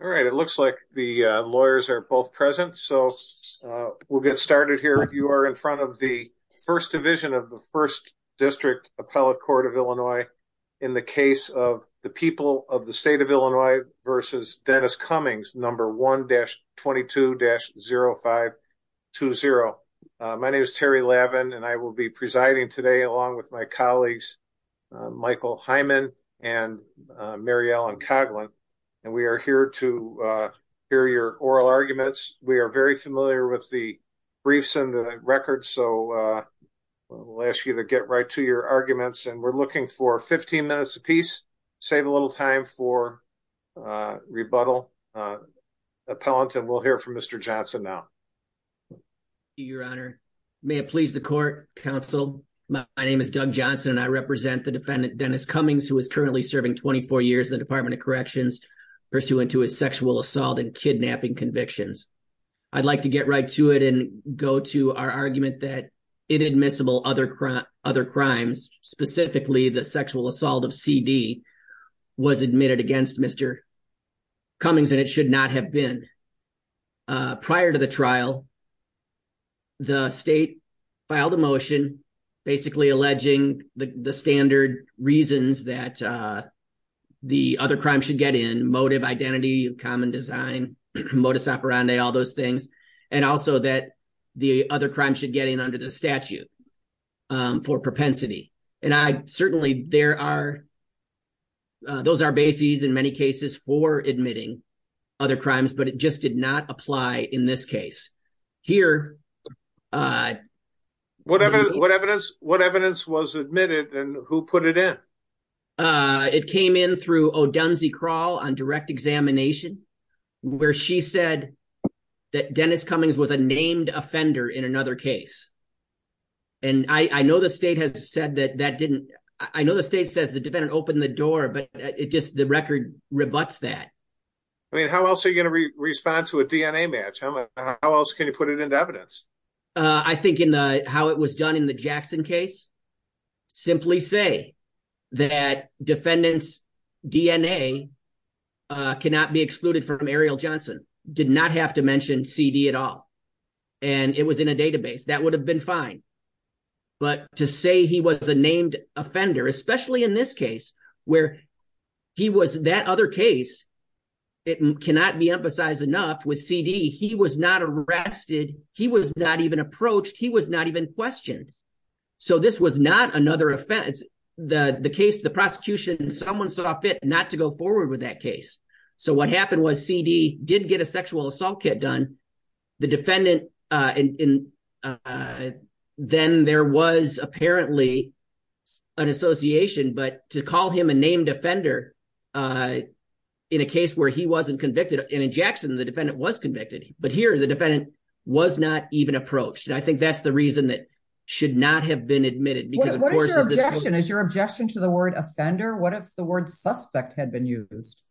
All right. It looks like the lawyers are both present. So we'll get started here. You are in front of the first division of the first district appellate court of Illinois in the case of the people of the state of Illinois versus Dennis Cummings, number 1-22-0520. My name is Terry Lavin, and I will be presiding today along with my colleagues, Michael Hyman and Mary Ellen Coughlin. And we are here to hear your oral arguments. We are very familiar with the briefs and the records. So we'll ask you to get right to your arguments and we're looking for 15 minutes a piece, save a little time for rebuttal, appellant, and we'll hear from Mr. Johnson now. Your honor, may it please the court, counsel. My name is Doug Johnson and I represent the defendant, Dennis Cummings, who is currently serving 24 years in the Department of Corrections pursuant to his sexual assault and kidnapping convictions. I'd like to get right to it and go to our argument that inadmissible other crimes, specifically the sexual assault of CD, was admitted against Mr. Cummings and it should not have been. Prior to the trial, the state filed a motion basically alleging the standard reasons that the other crime should get in motive, identity, common design, modus operandi, all those things. And also that the other crime should get in under the statute for propensity. And I certainly, there are, those are bases in many cases for admitting other crimes, but it just did not apply in this case here. What evidence, what evidence, what evidence was admitted and who put it in? It came in through O'Dunsey Crawl on direct examination where she said that Dennis Cummings was a named offender in another case, and I know the state has said that that didn't, I know the state says the defendant opened the door, but it just, the record rebuts that. I mean, how else are you going to respond to a DNA match? How else can you put it into evidence? I think in the, how it was done in the Jackson case, simply say that defendant's DNA cannot be excluded from Ariel Johnson, did not have to mention CD at all, and it was in a database. That would have been fine. But to say he was a named offender, especially in this case where he was that other case, it cannot be emphasized enough with CD, he was not arrested. He was not even approached. He was not even questioned. So this was not another offense. The case, the prosecution, someone saw fit not to go forward with that case. So what happened was CD did get a sexual assault kit done. The defendant, and then there was apparently an association, but to call him a named offender in a case where he wasn't convicted, and in Jackson, the defendant was convicted, but here the defendant was not even approached. And I think that's the reason that should not have been admitted. What is your objection? Is your objection to the word offender? What if the word suspect had been used?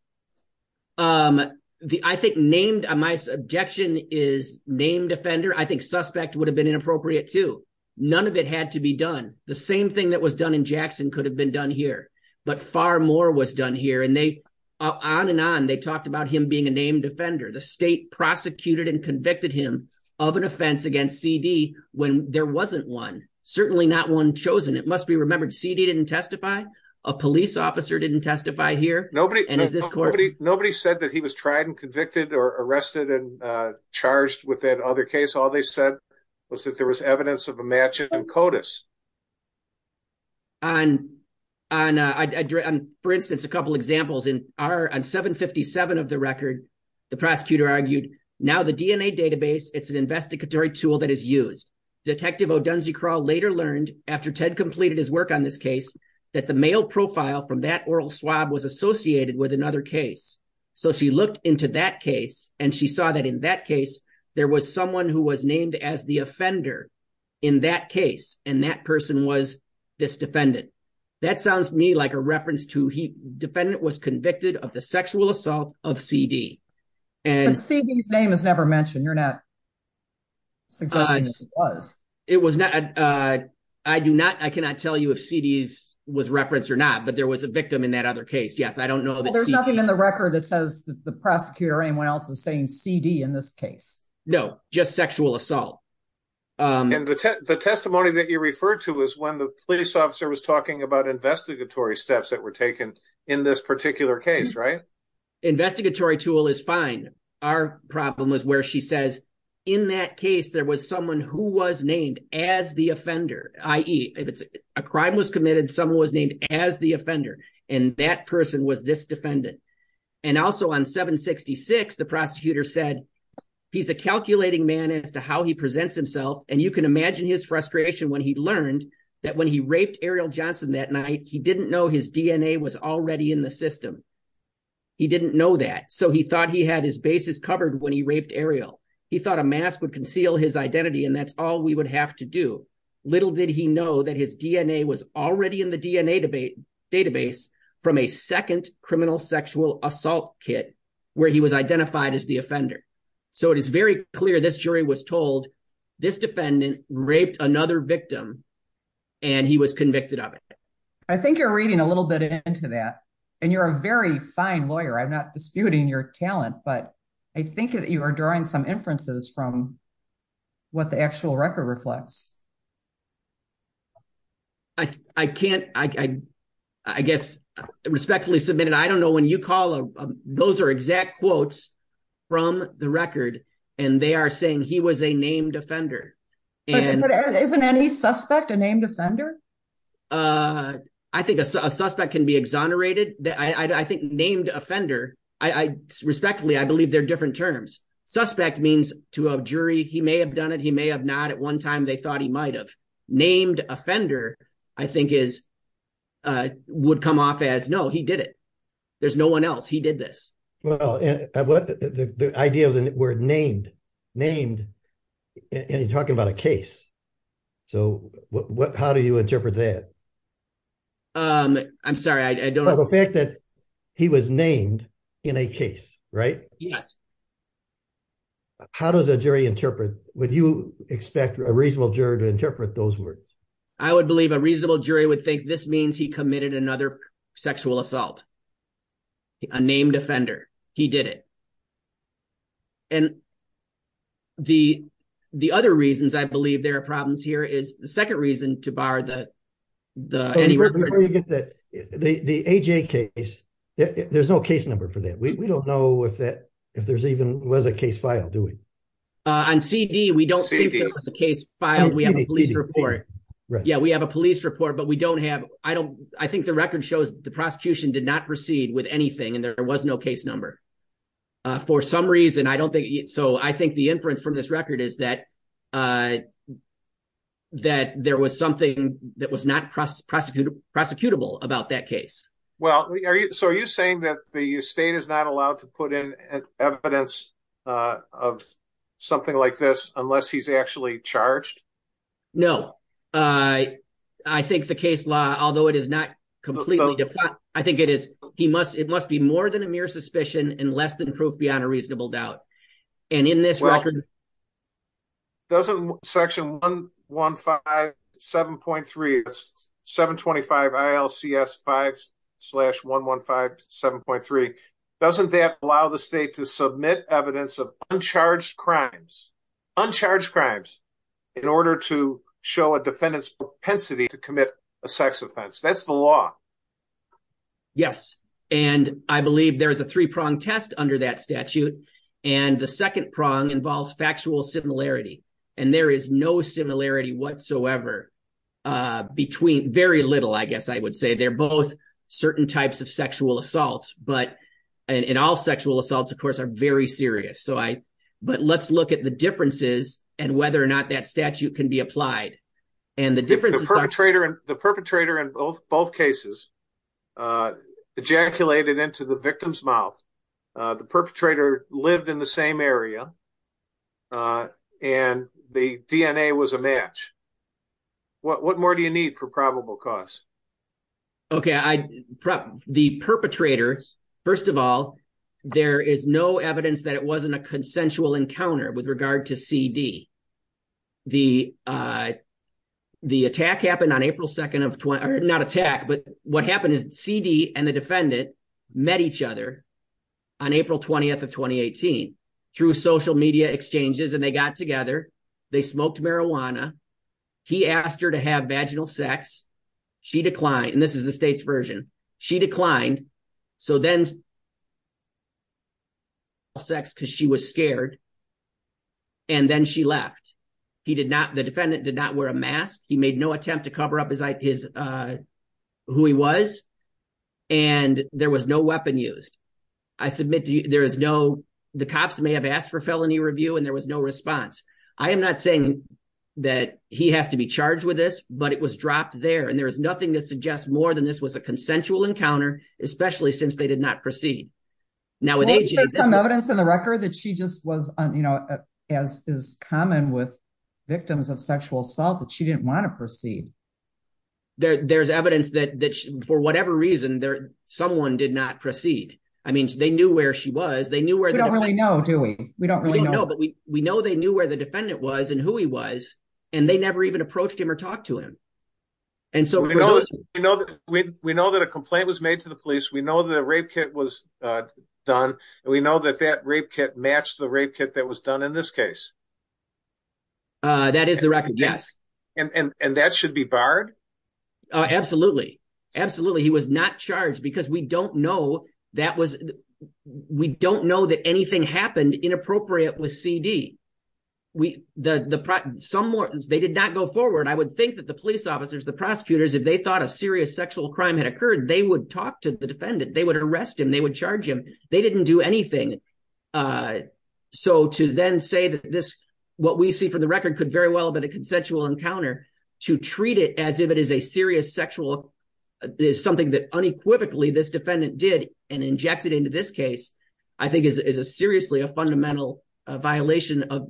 I think named, my objection is named offender. I think suspect would have been inappropriate too. None of it had to be done. The same thing that was done in Jackson could have been done here. But far more was done here. And they, on and on, they talked about him being a named offender. The state prosecuted and convicted him of an offense against CD when there wasn't one. Certainly not one chosen. It must be remembered, CD didn't testify. A police officer didn't testify here. Nobody, nobody, nobody said that he was tried and convicted or arrested and charged with that other case. All they said was that there was evidence of a match in CODIS. On, for instance, a couple of examples in our, on 757 of the record, the prosecutor argued now the DNA database, it's an investigatory tool that is used. Detective Odunzi-Kral later learned after Ted completed his work on this case, that the male profile from that oral swab was associated with another case. So she looked into that case and she saw that in that case, there was someone who was named as the offender in that case. And that person was this defendant. That sounds to me like a reference to he, defendant was convicted of the sexual assault of CD. And CD's name is never mentioned. You're not suggesting that it was. It was not, I do not, I cannot tell you if CD's was referenced or not, but there was a victim in that other case. Yes, I don't know. Well, there's nothing in the record that says that the prosecutor or anyone else is saying CD in this case. No, just sexual assault. And the testimony that you referred to is when the police officer was talking about investigatory steps that were taken in this particular case, right? Investigatory tool is fine. Our problem is where she says, in that case, there was someone who was named as the offender, i.e. if it's a crime was committed, someone was named as the offender and that person was this defendant. And also on 766, the prosecutor said he's a calculating man as to how he presents himself. And you can imagine his frustration when he learned that when he raped Ariel Johnson that night, he didn't know his DNA was already in the system. He didn't know that. So he thought he had his bases covered when he raped Ariel. He thought a mask would conceal his identity. And that's all we would have to do. Little did he know that his DNA was already in the DNA database from a second criminal sexual assault kit where he was identified as the offender. So it is very clear this jury was told this defendant raped another victim and he was convicted of it. I think you're reading a little bit into that and you're a very fine lawyer. I'm not disputing your talent, but I think that you are drawing some inferences from what the actual record reflects. I, I can't, I, I, I guess respectfully submitted. I don't know when you call those are exact quotes. From the record, and they are saying he was a named offender. And isn't any suspect a named offender. I think a suspect can be exonerated. I think named offender. I respectfully, I believe they're different terms suspect means to a jury. He may have done it. He may have not at 1 time. They thought he might have named offender. I think is would come off as no, he did it. There's no 1 else he did this. Well, the idea of the word named. So, how do you interpret that? I'm sorry, I don't know the fact that. He was named in a case, right? Yes. How does a jury interpret? Would you expect a reasonable juror to interpret those words? I would believe a reasonable jury would think this means he committed another sexual assault. A named offender, he did it. And the, the other reasons I believe there are problems here is the 2nd reason to bar the. The, the case, there's no case number for that. We don't know if that if there's even was a case file doing. On CD, we don't think it was a case file. We have a police report. Yeah, we have a police report, but we don't have I don't I think the record shows the prosecution did not proceed with anything and there was no case number. For some reason, I don't think so. I think the inference from this record is that. That there was something that was not prosecuted prosecutable about that case. Well, so are you saying that the state is not allowed to put in evidence of. Something like this, unless he's actually charged. No, I, I think the case law, although it is not completely different. I think it is, he must, it must be more than a mere suspicion and less than proof beyond a reasonable doubt. And in this record, doesn't section 1, 1, 5, 7.3, 725 5 slash 1, 1, 5, 7.3. Doesn't that allow the state to submit evidence of uncharged crimes. Uncharged crimes in order to show a defendant's propensity to commit a sex offense. That's the law. Yes, and I believe there is a 3 prong test under that statute. And the 2nd prong involves factual similarity. And there is no similarity whatsoever. Between very little, I guess I would say they're both certain types of sexual assaults, but. And all sexual assaults, of course, are very serious. So I. But let's look at the differences and whether or not that statute can be applied. And the difference is the perpetrator in both cases. Ejaculated into the victim's mouth. The perpetrator lived in the same area. And the DNA was a match. What more do you need for probable cause? Okay, the perpetrator, first of all. There is no evidence that it wasn't a consensual encounter with regard to CD. The, uh. The attack happened on April 2nd of not attack. But what happened is CD and the defendant met each other. On April 20th of 2018 through social media exchanges, and they got together. They smoked marijuana. He asked her to have vaginal sex. She declined and this is the state's version. She declined so then. Sex because she was scared. And then she left. He did not. The defendant did not wear a mask. He made no attempt to cover up his who he was. And there was no weapon used. I submit there is no. The cops may have asked for felony review and there was no response. I am not saying that he has to be charged with this, but it was dropped there. And there is nothing to suggest more than this was a consensual encounter, especially since they did not proceed. Now, with some evidence in the record that she just was, you know, as is common with victims of sexual assault that she didn't want to proceed. There's evidence that for whatever reason there, someone did not proceed. I mean, they knew where she was. They knew where they don't really know, do we? We don't really know. But we know they knew where the defendant was and who he was. And they never even approached him or talked to him. And so we know that we know that a complaint was made to the police. We know that a rape kit was done. And we know that that rape kit matched the rape kit that was done in this case. That is the record. Yes. And that should be barred? Absolutely. Absolutely. He was not charged because we don't know that was. We don't know that anything happened inappropriate with C.D. We the some more. They did not go forward. I would think that the police officers, the prosecutors, if they thought a serious sexual crime had occurred, they would talk to the defendant. They would arrest him. They would charge him. They didn't do anything. So to then say that this what we see for the record could very well be a consensual encounter to treat it as if it is a serious sexual, something that unequivocally this defendant did and injected into this case, I think is a seriously a fundamental violation of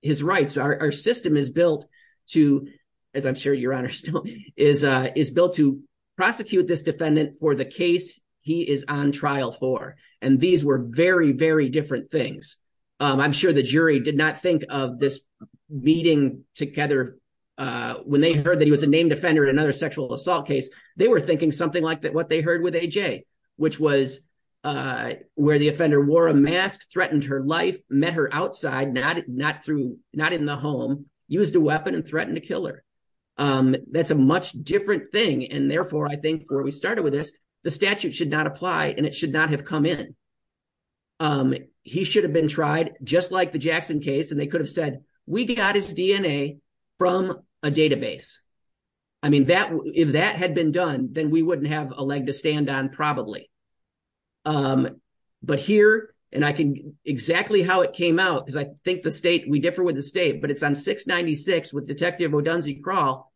his rights. Our system is built to, as I'm sure your honor still is, is built to prosecute this defendant for the case he is on trial for. And these were very, very different things. I'm sure the jury did not think of this meeting together when they heard that he was a named offender in another sexual assault case. They were thinking something like that what they heard with A.J., which was where the offender wore a mask, threatened her life, met her outside, not in the home, used a weapon and threatened to kill her. That's a much different thing. And therefore, I think where we started with this, the statute should not apply and it should not have come in. He should have been tried just like the Jackson case. And they could have said, we got his DNA from a database. I mean, if that had been done, then we wouldn't have a leg to stand on probably. But here, and I can, exactly how it came out, because I think the state, we differ with the state, but it's on 696 with Detective Odunzi Crawl.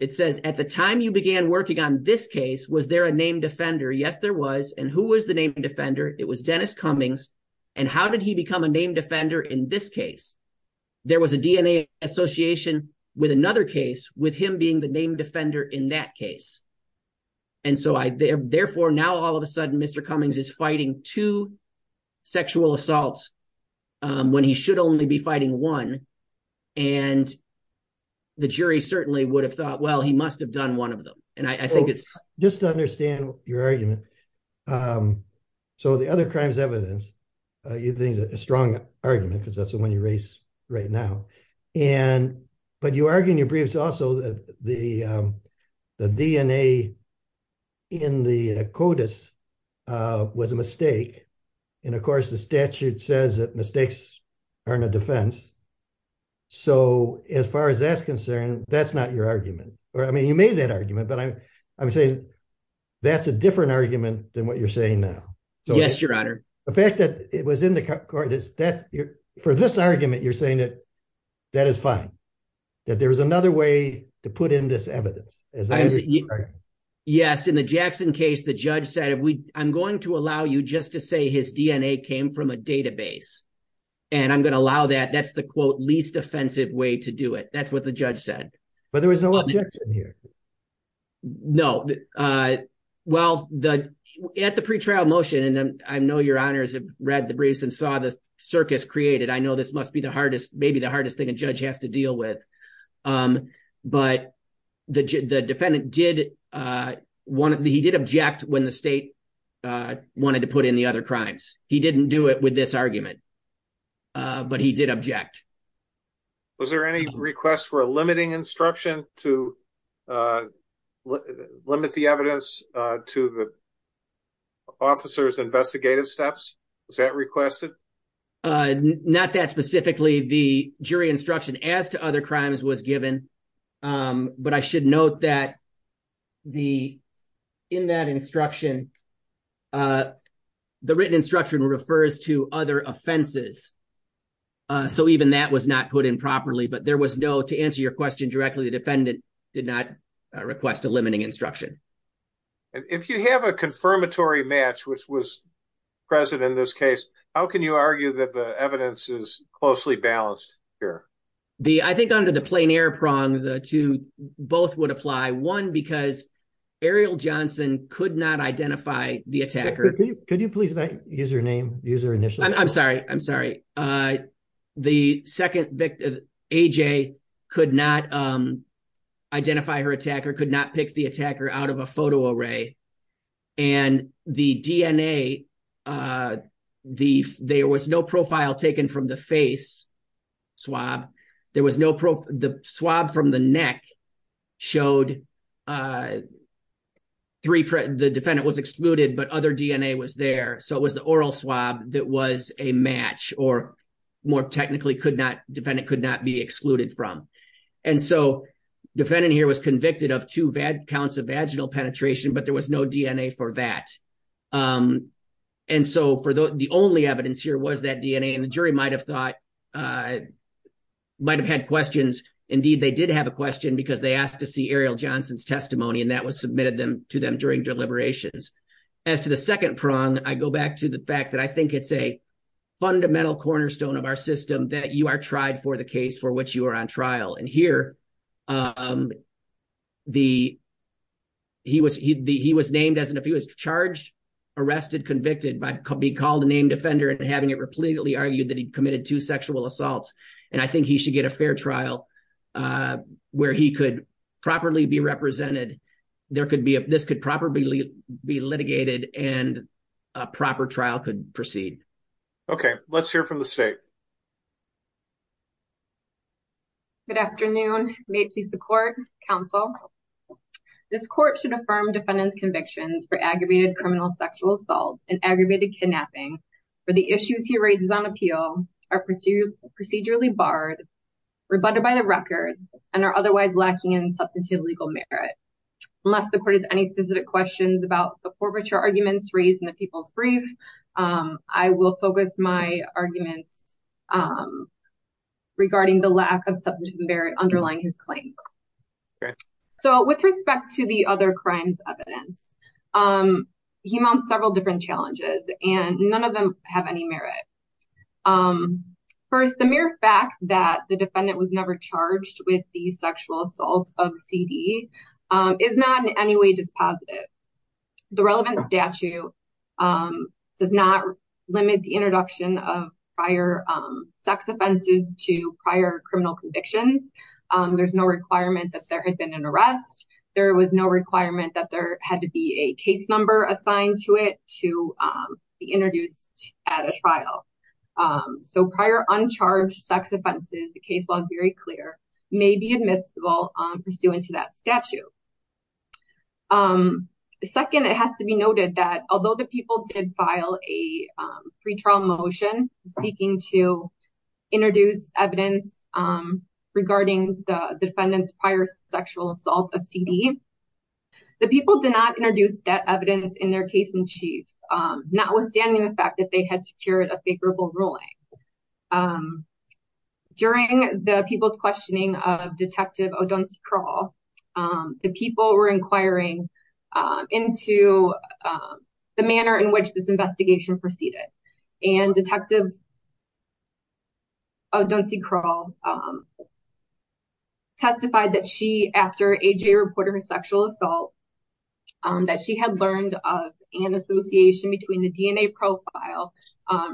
It says, at the time you began working on this case, was there a named offender? Yes, there was. And who was the named offender? It was Dennis Cummings. And how did he become a named offender in this case? There was a DNA association with another case with him being the named offender in that case. And so therefore, now all of a sudden, Mr. Cummings is fighting two sexual assaults when he should only be fighting one. And the jury certainly would have thought, well, he must have done one of them. And I think it's- Just to understand your argument. So the other crimes evidence, you think is a strong argument because that's the one you raise right now. But you argue in your briefs also that the DNA in the CODIS was a mistake. And of course, the statute says that mistakes aren't a defense. So as far as that's concerned, that's not your argument. I mean, you made that argument, but I'm saying that's a different argument than what you're saying now. Yes, Your Honor. The fact that it was in the CODIS, for this argument, you're saying that that is fine. That there was another way to put in this evidence. Yes, in the Jackson case, the judge said, I'm going to allow you just to say his DNA came from a database. And I'm going to allow that. That's the quote, least offensive way to do it. That's what the judge said. But there was no objection here. No. Well, at the pretrial motion, and I know Your Honors have read the briefs and saw the circus created. I know this must be the hardest, maybe the hardest thing a judge has to deal with. But the defendant did, he did object when the state wanted to put in the other crimes. He didn't do it with this argument, but he did object. Was there any request for a limiting instruction to limit the evidence to the officer's investigative steps? Was that requested? Not that specifically. The jury instruction as to other crimes was given, but I should note that the, in that instruction, the written instruction refers to other offenses. So even that was not put in properly, but there was no, to answer your question directly, the defendant did not request a limiting instruction. And if you have a confirmatory match, which was present in this case, how can you argue that the evidence is closely balanced here? I think under the plein air prong, the two, both would apply. One, because Ariel Johnson could not identify the attacker. Could you please not use her name, use her initials? I'm sorry, I'm sorry. The second victim, AJ, could not identify her attacker, could not pick the attacker out of a photo array. And the DNA, the, there was no profile taken from the face swab. There was no, the swab from the neck showed three, the defendant was excluded, but other DNA was there. So it was the oral swab that was a match or more technically could not, defendant could not be excluded from. And so defendant here was convicted of two bad counts of vaginal penetration, but there was no DNA for that. And so for the only evidence here was that DNA and the jury might've thought, might've had questions. Indeed, they did have a question because they asked to see Ariel Johnson's testimony and that was submitted to them during deliberations. As to the second prong, I go back to the fact that I think it's a fundamental cornerstone of our system that you are tried for the case for which you are on trial. And here, the, he was, if he was charged, arrested, convicted by being called a named offender and having it repeatedly argued that he committed two sexual assaults. And I think he should get a fair trial where he could properly be represented. There could be, this could properly be litigated and a proper trial could proceed. Okay, let's hear from the state. Good afternoon. May it please the court, counsel. This court should affirm defendant's convictions for aggravated criminal sexual assault and aggravated kidnapping for the issues he raises on appeal are procedurally barred, rebutted by the record and are otherwise lacking in substantive legal merit. Unless the court has any specific questions about the forfeiture arguments raised in the people's brief, I will focus my arguments regarding the lack of substantive merit underlying his claims. Okay. So with respect to the other crimes evidence, he mounts several different challenges and none of them have any merit. First, the mere fact that the defendant was never charged with the sexual assault of CD is not in any way dispositive. The relevant statute does not limit the introduction of prior sex offenses to prior criminal convictions. There's no requirement that there had been an arrest. There was no requirement that there had to be a case number assigned to it to be introduced at a trial. So prior uncharged sex offenses, the case law is very clear, may be admissible pursuant to that statute. Second, it has to be noted that although the people did file a pre-trial motion seeking to introduce evidence regarding the defendant's prior sexual assault of CD, the people did not introduce that evidence in their case in chief, notwithstanding the fact that they had secured a favorable ruling. During the people's questioning of Detective O'Donnell's parole, the people were inquiring into the manner in which this investigation proceeded. And Detective O'Donnell testified that she, after AJ reported her sexual assault, that she had learned of an association between the DNA profile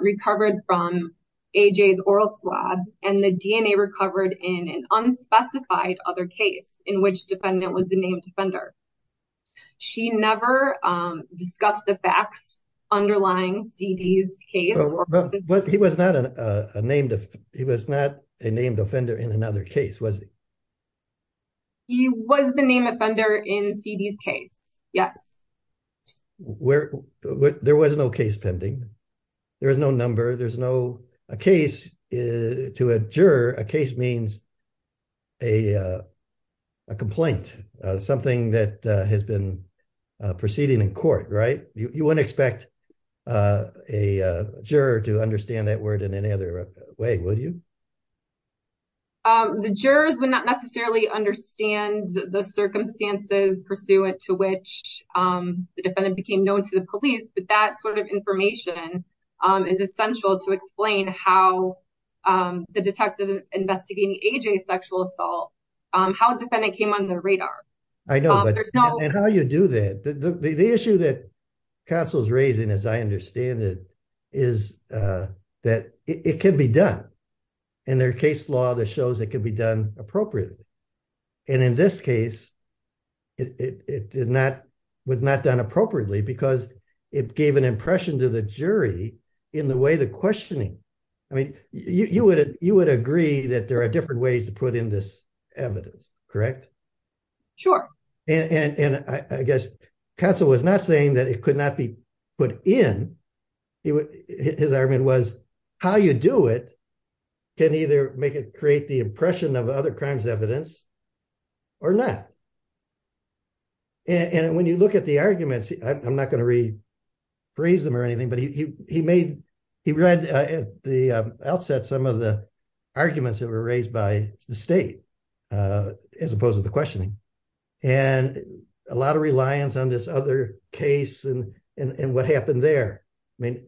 recovered from AJ's oral swab and the DNA recovered in an unspecified other case in which defendant was the named offender. She never discussed the facts underlying CD's case. But he was not a named offender in another case, was he? He was the named offender in CD's case, yes. There was no case pending. There was no number. There's no case to a juror. A case means a complaint, something that has been proceeding in court, right? You wouldn't expect a juror to understand that word in any other way, would you? The jurors would not necessarily understand the circumstances pursuant to which the defendant became known to the police. But that sort of information is essential to explain how the detective investigating AJ's sexual assault, how a defendant came on the radar. I know, and how you do that. The issue that counsel's raising, as I understand it, is that it can be done. And there are case law that shows it can be done appropriately. And in this case, it was not done appropriately because it gave an impression to the jury in the way the questioning. I mean, you would agree that there are different ways to put in this evidence, correct? Sure. And I guess counsel was not saying that it could not be put in. His argument was how you do it can either make it create the impression of other crimes evidence or not. And when you look at the arguments, I'm not gonna rephrase them or anything, but he read at the outset some of the arguments that were raised by the state as opposed to the questioning. And a lot of reliance on this other case and what happened there. I mean,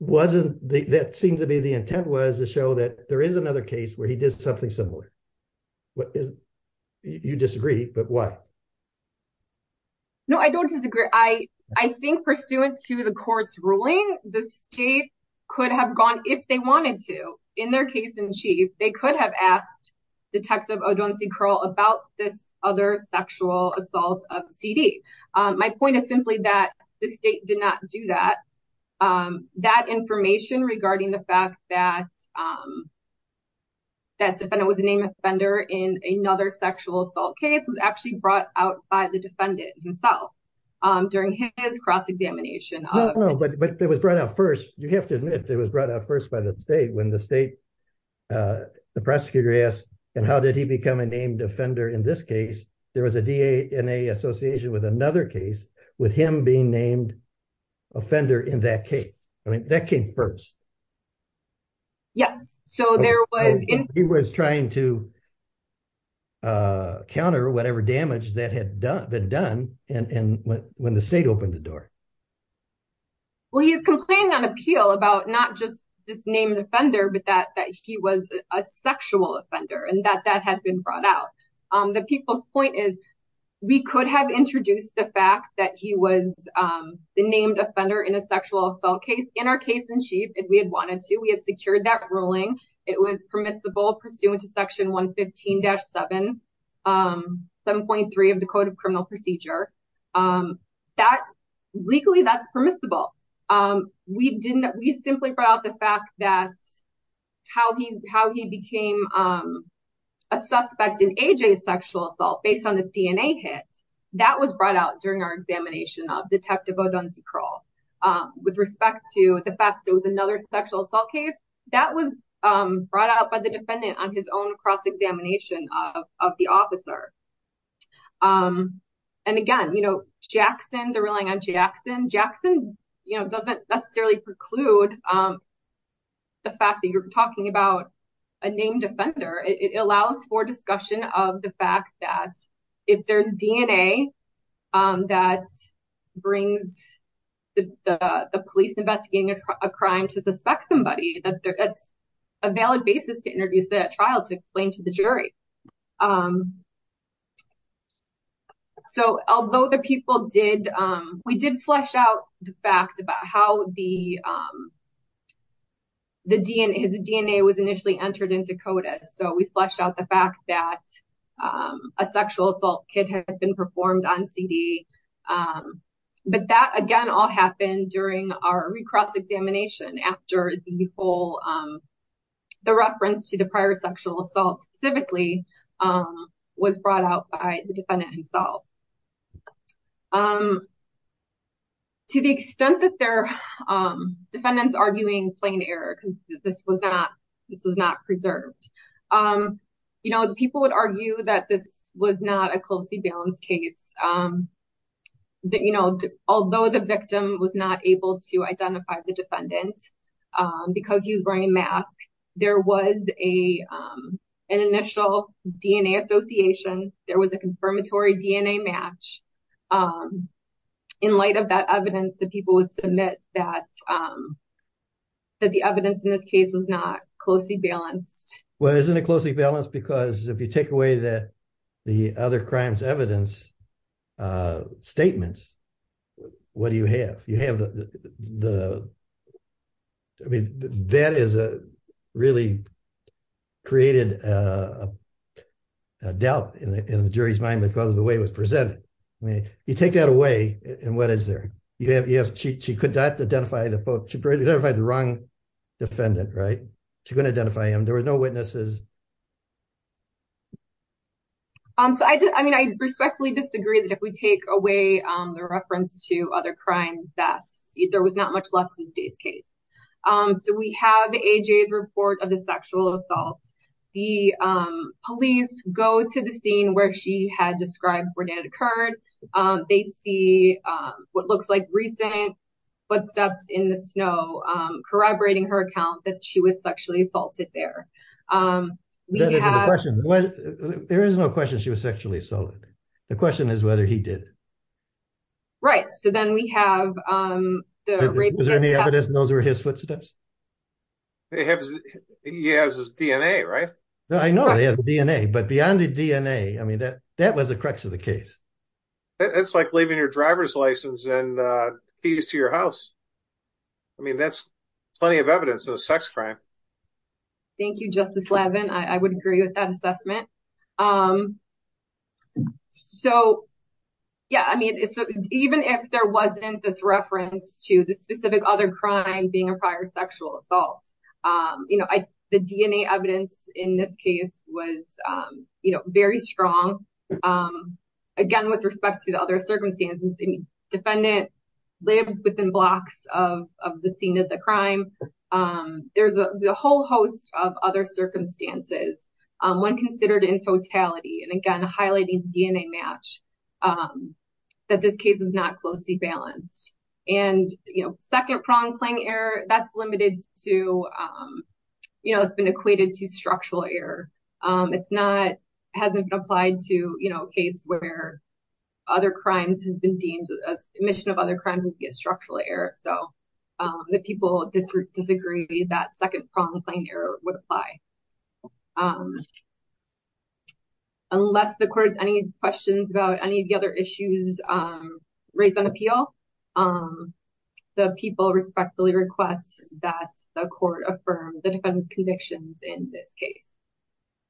that seemed to be the intent was to show that there is another case where he did something similar. You disagree, but why? No, I don't disagree. I think pursuant to the court's ruling, the state could have gone, if they wanted to, in their case in chief, they could have asked Detective Odonci-Curl about this other sexual assault of C.D. My point is simply that the state did not do that. That information regarding the fact that defendant was a named offender in another sexual assault case was actually brought out by the defendant himself during his cross-examination. But it was brought out first. You have to admit it was brought out first by the state when the state, the prosecutor asked, and how did he become a named offender in this case? There was a DNA association with another case with him being named offender in that case. I mean, that came first. Yes, so there was- He was trying to counter whatever damage that had been done when the state opened the door. Well, he is complaining on appeal about not just this named offender, but that he was a sexual offender and that that had been brought out. The people's point is, we could have introduced the fact that he was the named offender in a sexual assault case in our case in chief if we had wanted to. We had secured that ruling. It was permissible pursuant to Section 115-7.3 of the Code of Criminal Procedure. Legally, that's permissible. We simply brought out the fact that how he became a suspect in A.J.'s sexual assault based on the DNA hits, that was brought out during our examination of Detective O'Dunsey Krull with respect to the fact that it was another sexual assault case. That was brought out by the defendant on his own cross-examination of the officer. And again, Jackson, they're relying on Jackson. Jackson doesn't necessarily preclude the fact that you're talking about a named offender. It allows for discussion of the fact that if there's DNA that brings the police investigating a crime to suspect somebody, that it's a valid basis to introduce that trial to explain to the jury. So, although the people did... We did flesh out the fact about how his DNA was initially entered into CODIS. So, we fleshed out the fact that a sexual assault hit had been performed on CD. But that, again, all happened during our recross-examination after the reference to the prior sexual assault, specifically, was brought out by the defendant himself. To the extent that they're... Defendants arguing plain error because this was not preserved. People would argue that this was not a closely balanced case. Although the victim was not able to identify the defendant because he was wearing a mask, there was an initial DNA association. There was a confirmatory DNA match. In light of that evidence, the people would submit that the evidence in this case was not closely balanced. Well, isn't it closely balanced? Because if you take away that the other crimes evidence statements, what do you have? You have the... Really created a doubt in the jury's mind because of the way it was presented. I mean, you take that away, and what is there? She couldn't identify the wrong defendant, right? She couldn't identify him. There was no witnesses. So, I mean, I respectfully disagree that if we take away the reference to other crimes, that there was not much left to this day's case. So we have AJ's report of the sexual assault. The police go to the scene where she had described where it had occurred. They see what looks like recent footsteps in the snow, corroborating her account that she was sexually assaulted there. We have... There is no question she was sexually assaulted. The question is whether he did. Right, so then we have the rape... Is there any evidence those were his footsteps? He has his DNA, right? I know he has DNA, but beyond the DNA, I mean, that was the crux of the case. It's like leaving your driver's license and fees to your house. I mean, that's plenty of evidence of a sex crime. Thank you, Justice Levin. I would agree with that assessment. So, yeah, I mean, even if there wasn't this reference to the specific other crime being a prior sexual assault, you know, the DNA evidence in this case was, you know, very strong. Again, with respect to the other circumstances, defendant lived within blocks of the scene of the crime. There's a whole host of other circumstances when considered in totality. And again, highlighting DNA match that this case is not closely balanced. And, you know, second prong playing error, that's limited to, you know, it's been equated to structural error. It's not, hasn't applied to, you know, a case where other crimes have been deemed as omission of other crimes and get structural error. So the people disagree that second prong playing error would apply. Unless the court has any questions about any of the other issues raised on appeal, the people respectfully request that the court affirm the defendant's convictions in this case.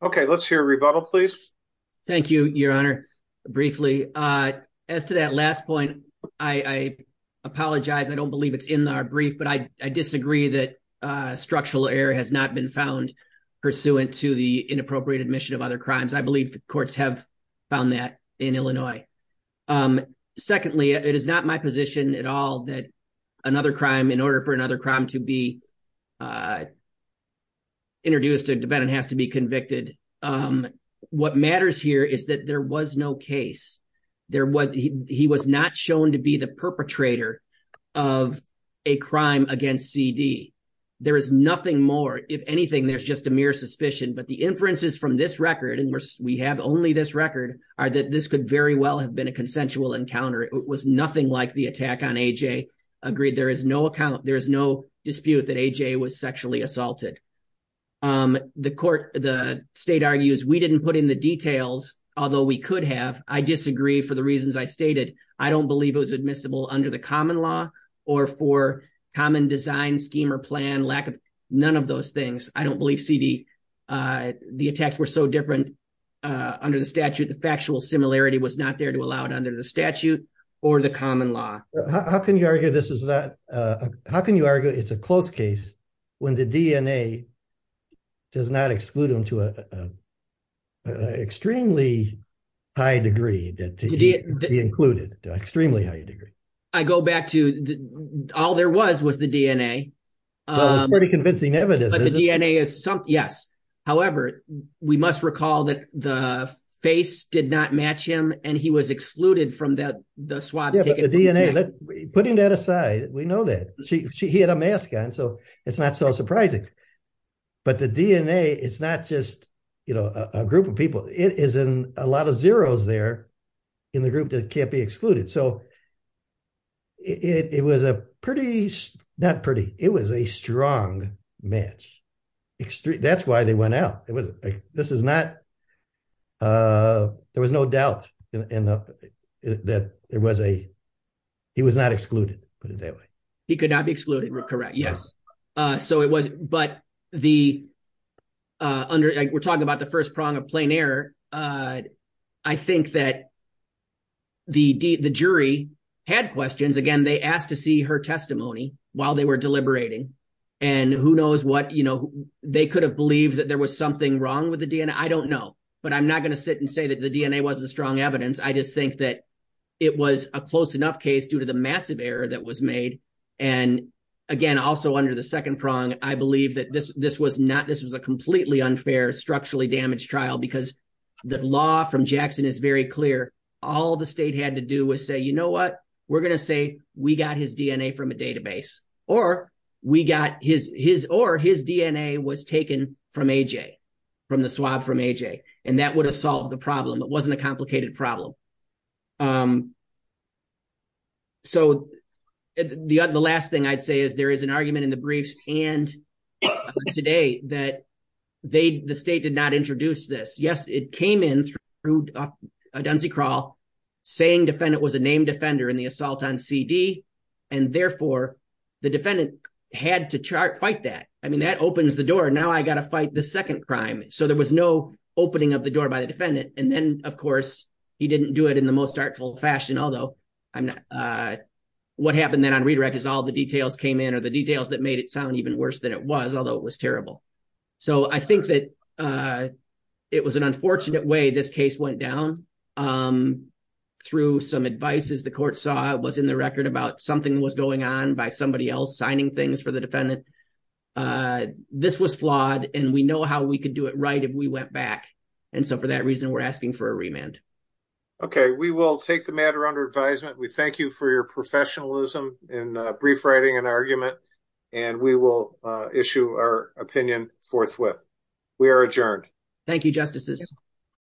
Okay, let's hear a rebuttal, please. Thank you, Your Honor. Briefly, as to that last point, I apologize. I don't believe it's in our brief, but I disagree that structural error has not been found pursuant to the inappropriate omission of other crimes. I believe the courts have found that in Illinois. Secondly, it is not my position that another crime, in order for another crime to be introduced, the defendant has to be convicted. What matters here is that there was no case. He was not shown to be the perpetrator of a crime against C.D. There is nothing more. If anything, there's just a mere suspicion, but the inferences from this record, and we have only this record, are that this could very well have been a consensual encounter. It was nothing like the attack on A.J. Agreed, there is no dispute that A.J. was sexually assaulted. The state argues, we didn't put in the details, although we could have. I disagree for the reasons I stated. I don't believe it was admissible under the common law or for common design, scheme, or plan, lack of none of those things. I don't believe C.D., the attacks were so different under the statute. The factual similarity was not there to allow it under the statute. Or the common law. How can you argue this is not, how can you argue it's a close case when the DNA does not exclude him to an extremely high degree that he included, extremely high degree? I go back to, all there was was the DNA. Well, it's pretty convincing evidence, isn't it? But the DNA is, yes. However, we must recall that the face did not match him, and he was excluded from the swabs. Yeah, but the DNA, putting that aside, we know that. He had a mask on, so it's not so surprising. But the DNA, it's not just a group of people. It is in a lot of zeros there in the group that can't be excluded. So it was a pretty, not pretty, it was a strong match. That's why they went out. This is not, there was no doubt that there was a, he was not excluded, put it that way. He could not be excluded, correct, yes. So it was, but the, we're talking about the first prong of plain error. I think that the jury had questions. Again, they asked to see her testimony while they were deliberating. And who knows what, they could have believed that there was something wrong with the DNA. I don't know, but I'm not gonna sit and say the DNA wasn't strong evidence. I just think that it was a close enough case due to the massive error that was made. And again, also under the second prong, I believe that this was not, this was a completely unfair, structurally damaged trial because the law from Jackson is very clear. All the state had to do was say, you know what, we're gonna say we got his DNA from a database or we got his, or his DNA was taken from AJ, from the swab from AJ. And that would have solved the problem. It wasn't a complicated problem. So the last thing I'd say is there is an argument in the briefs and today that they, the state did not introduce this. Yes, it came in through a Dunsey crawl saying defendant was a named offender in the assault on CD. And therefore the defendant had to fight that. I mean, that opens the door. Now I got to fight the second crime. So there was no opening of the door by the defendant. And then of course he didn't do it in the most artful fashion, although I'm not, what happened then on redirect is all the details came in or the details that made it sound even worse than it was, although it was terrible. So I think that it was an unfortunate way this case went down through some advice as the court saw was in the record about something was going on by somebody else signing things for the defendant. This was flawed and we know how we could do it right if we went back. And so for that reason, we're asking for a remand. Okay, we will take the matter under advisement. We thank you for your professionalism in brief writing an argument and we will issue our opinion forthwith. We are adjourned. Thank you, justices.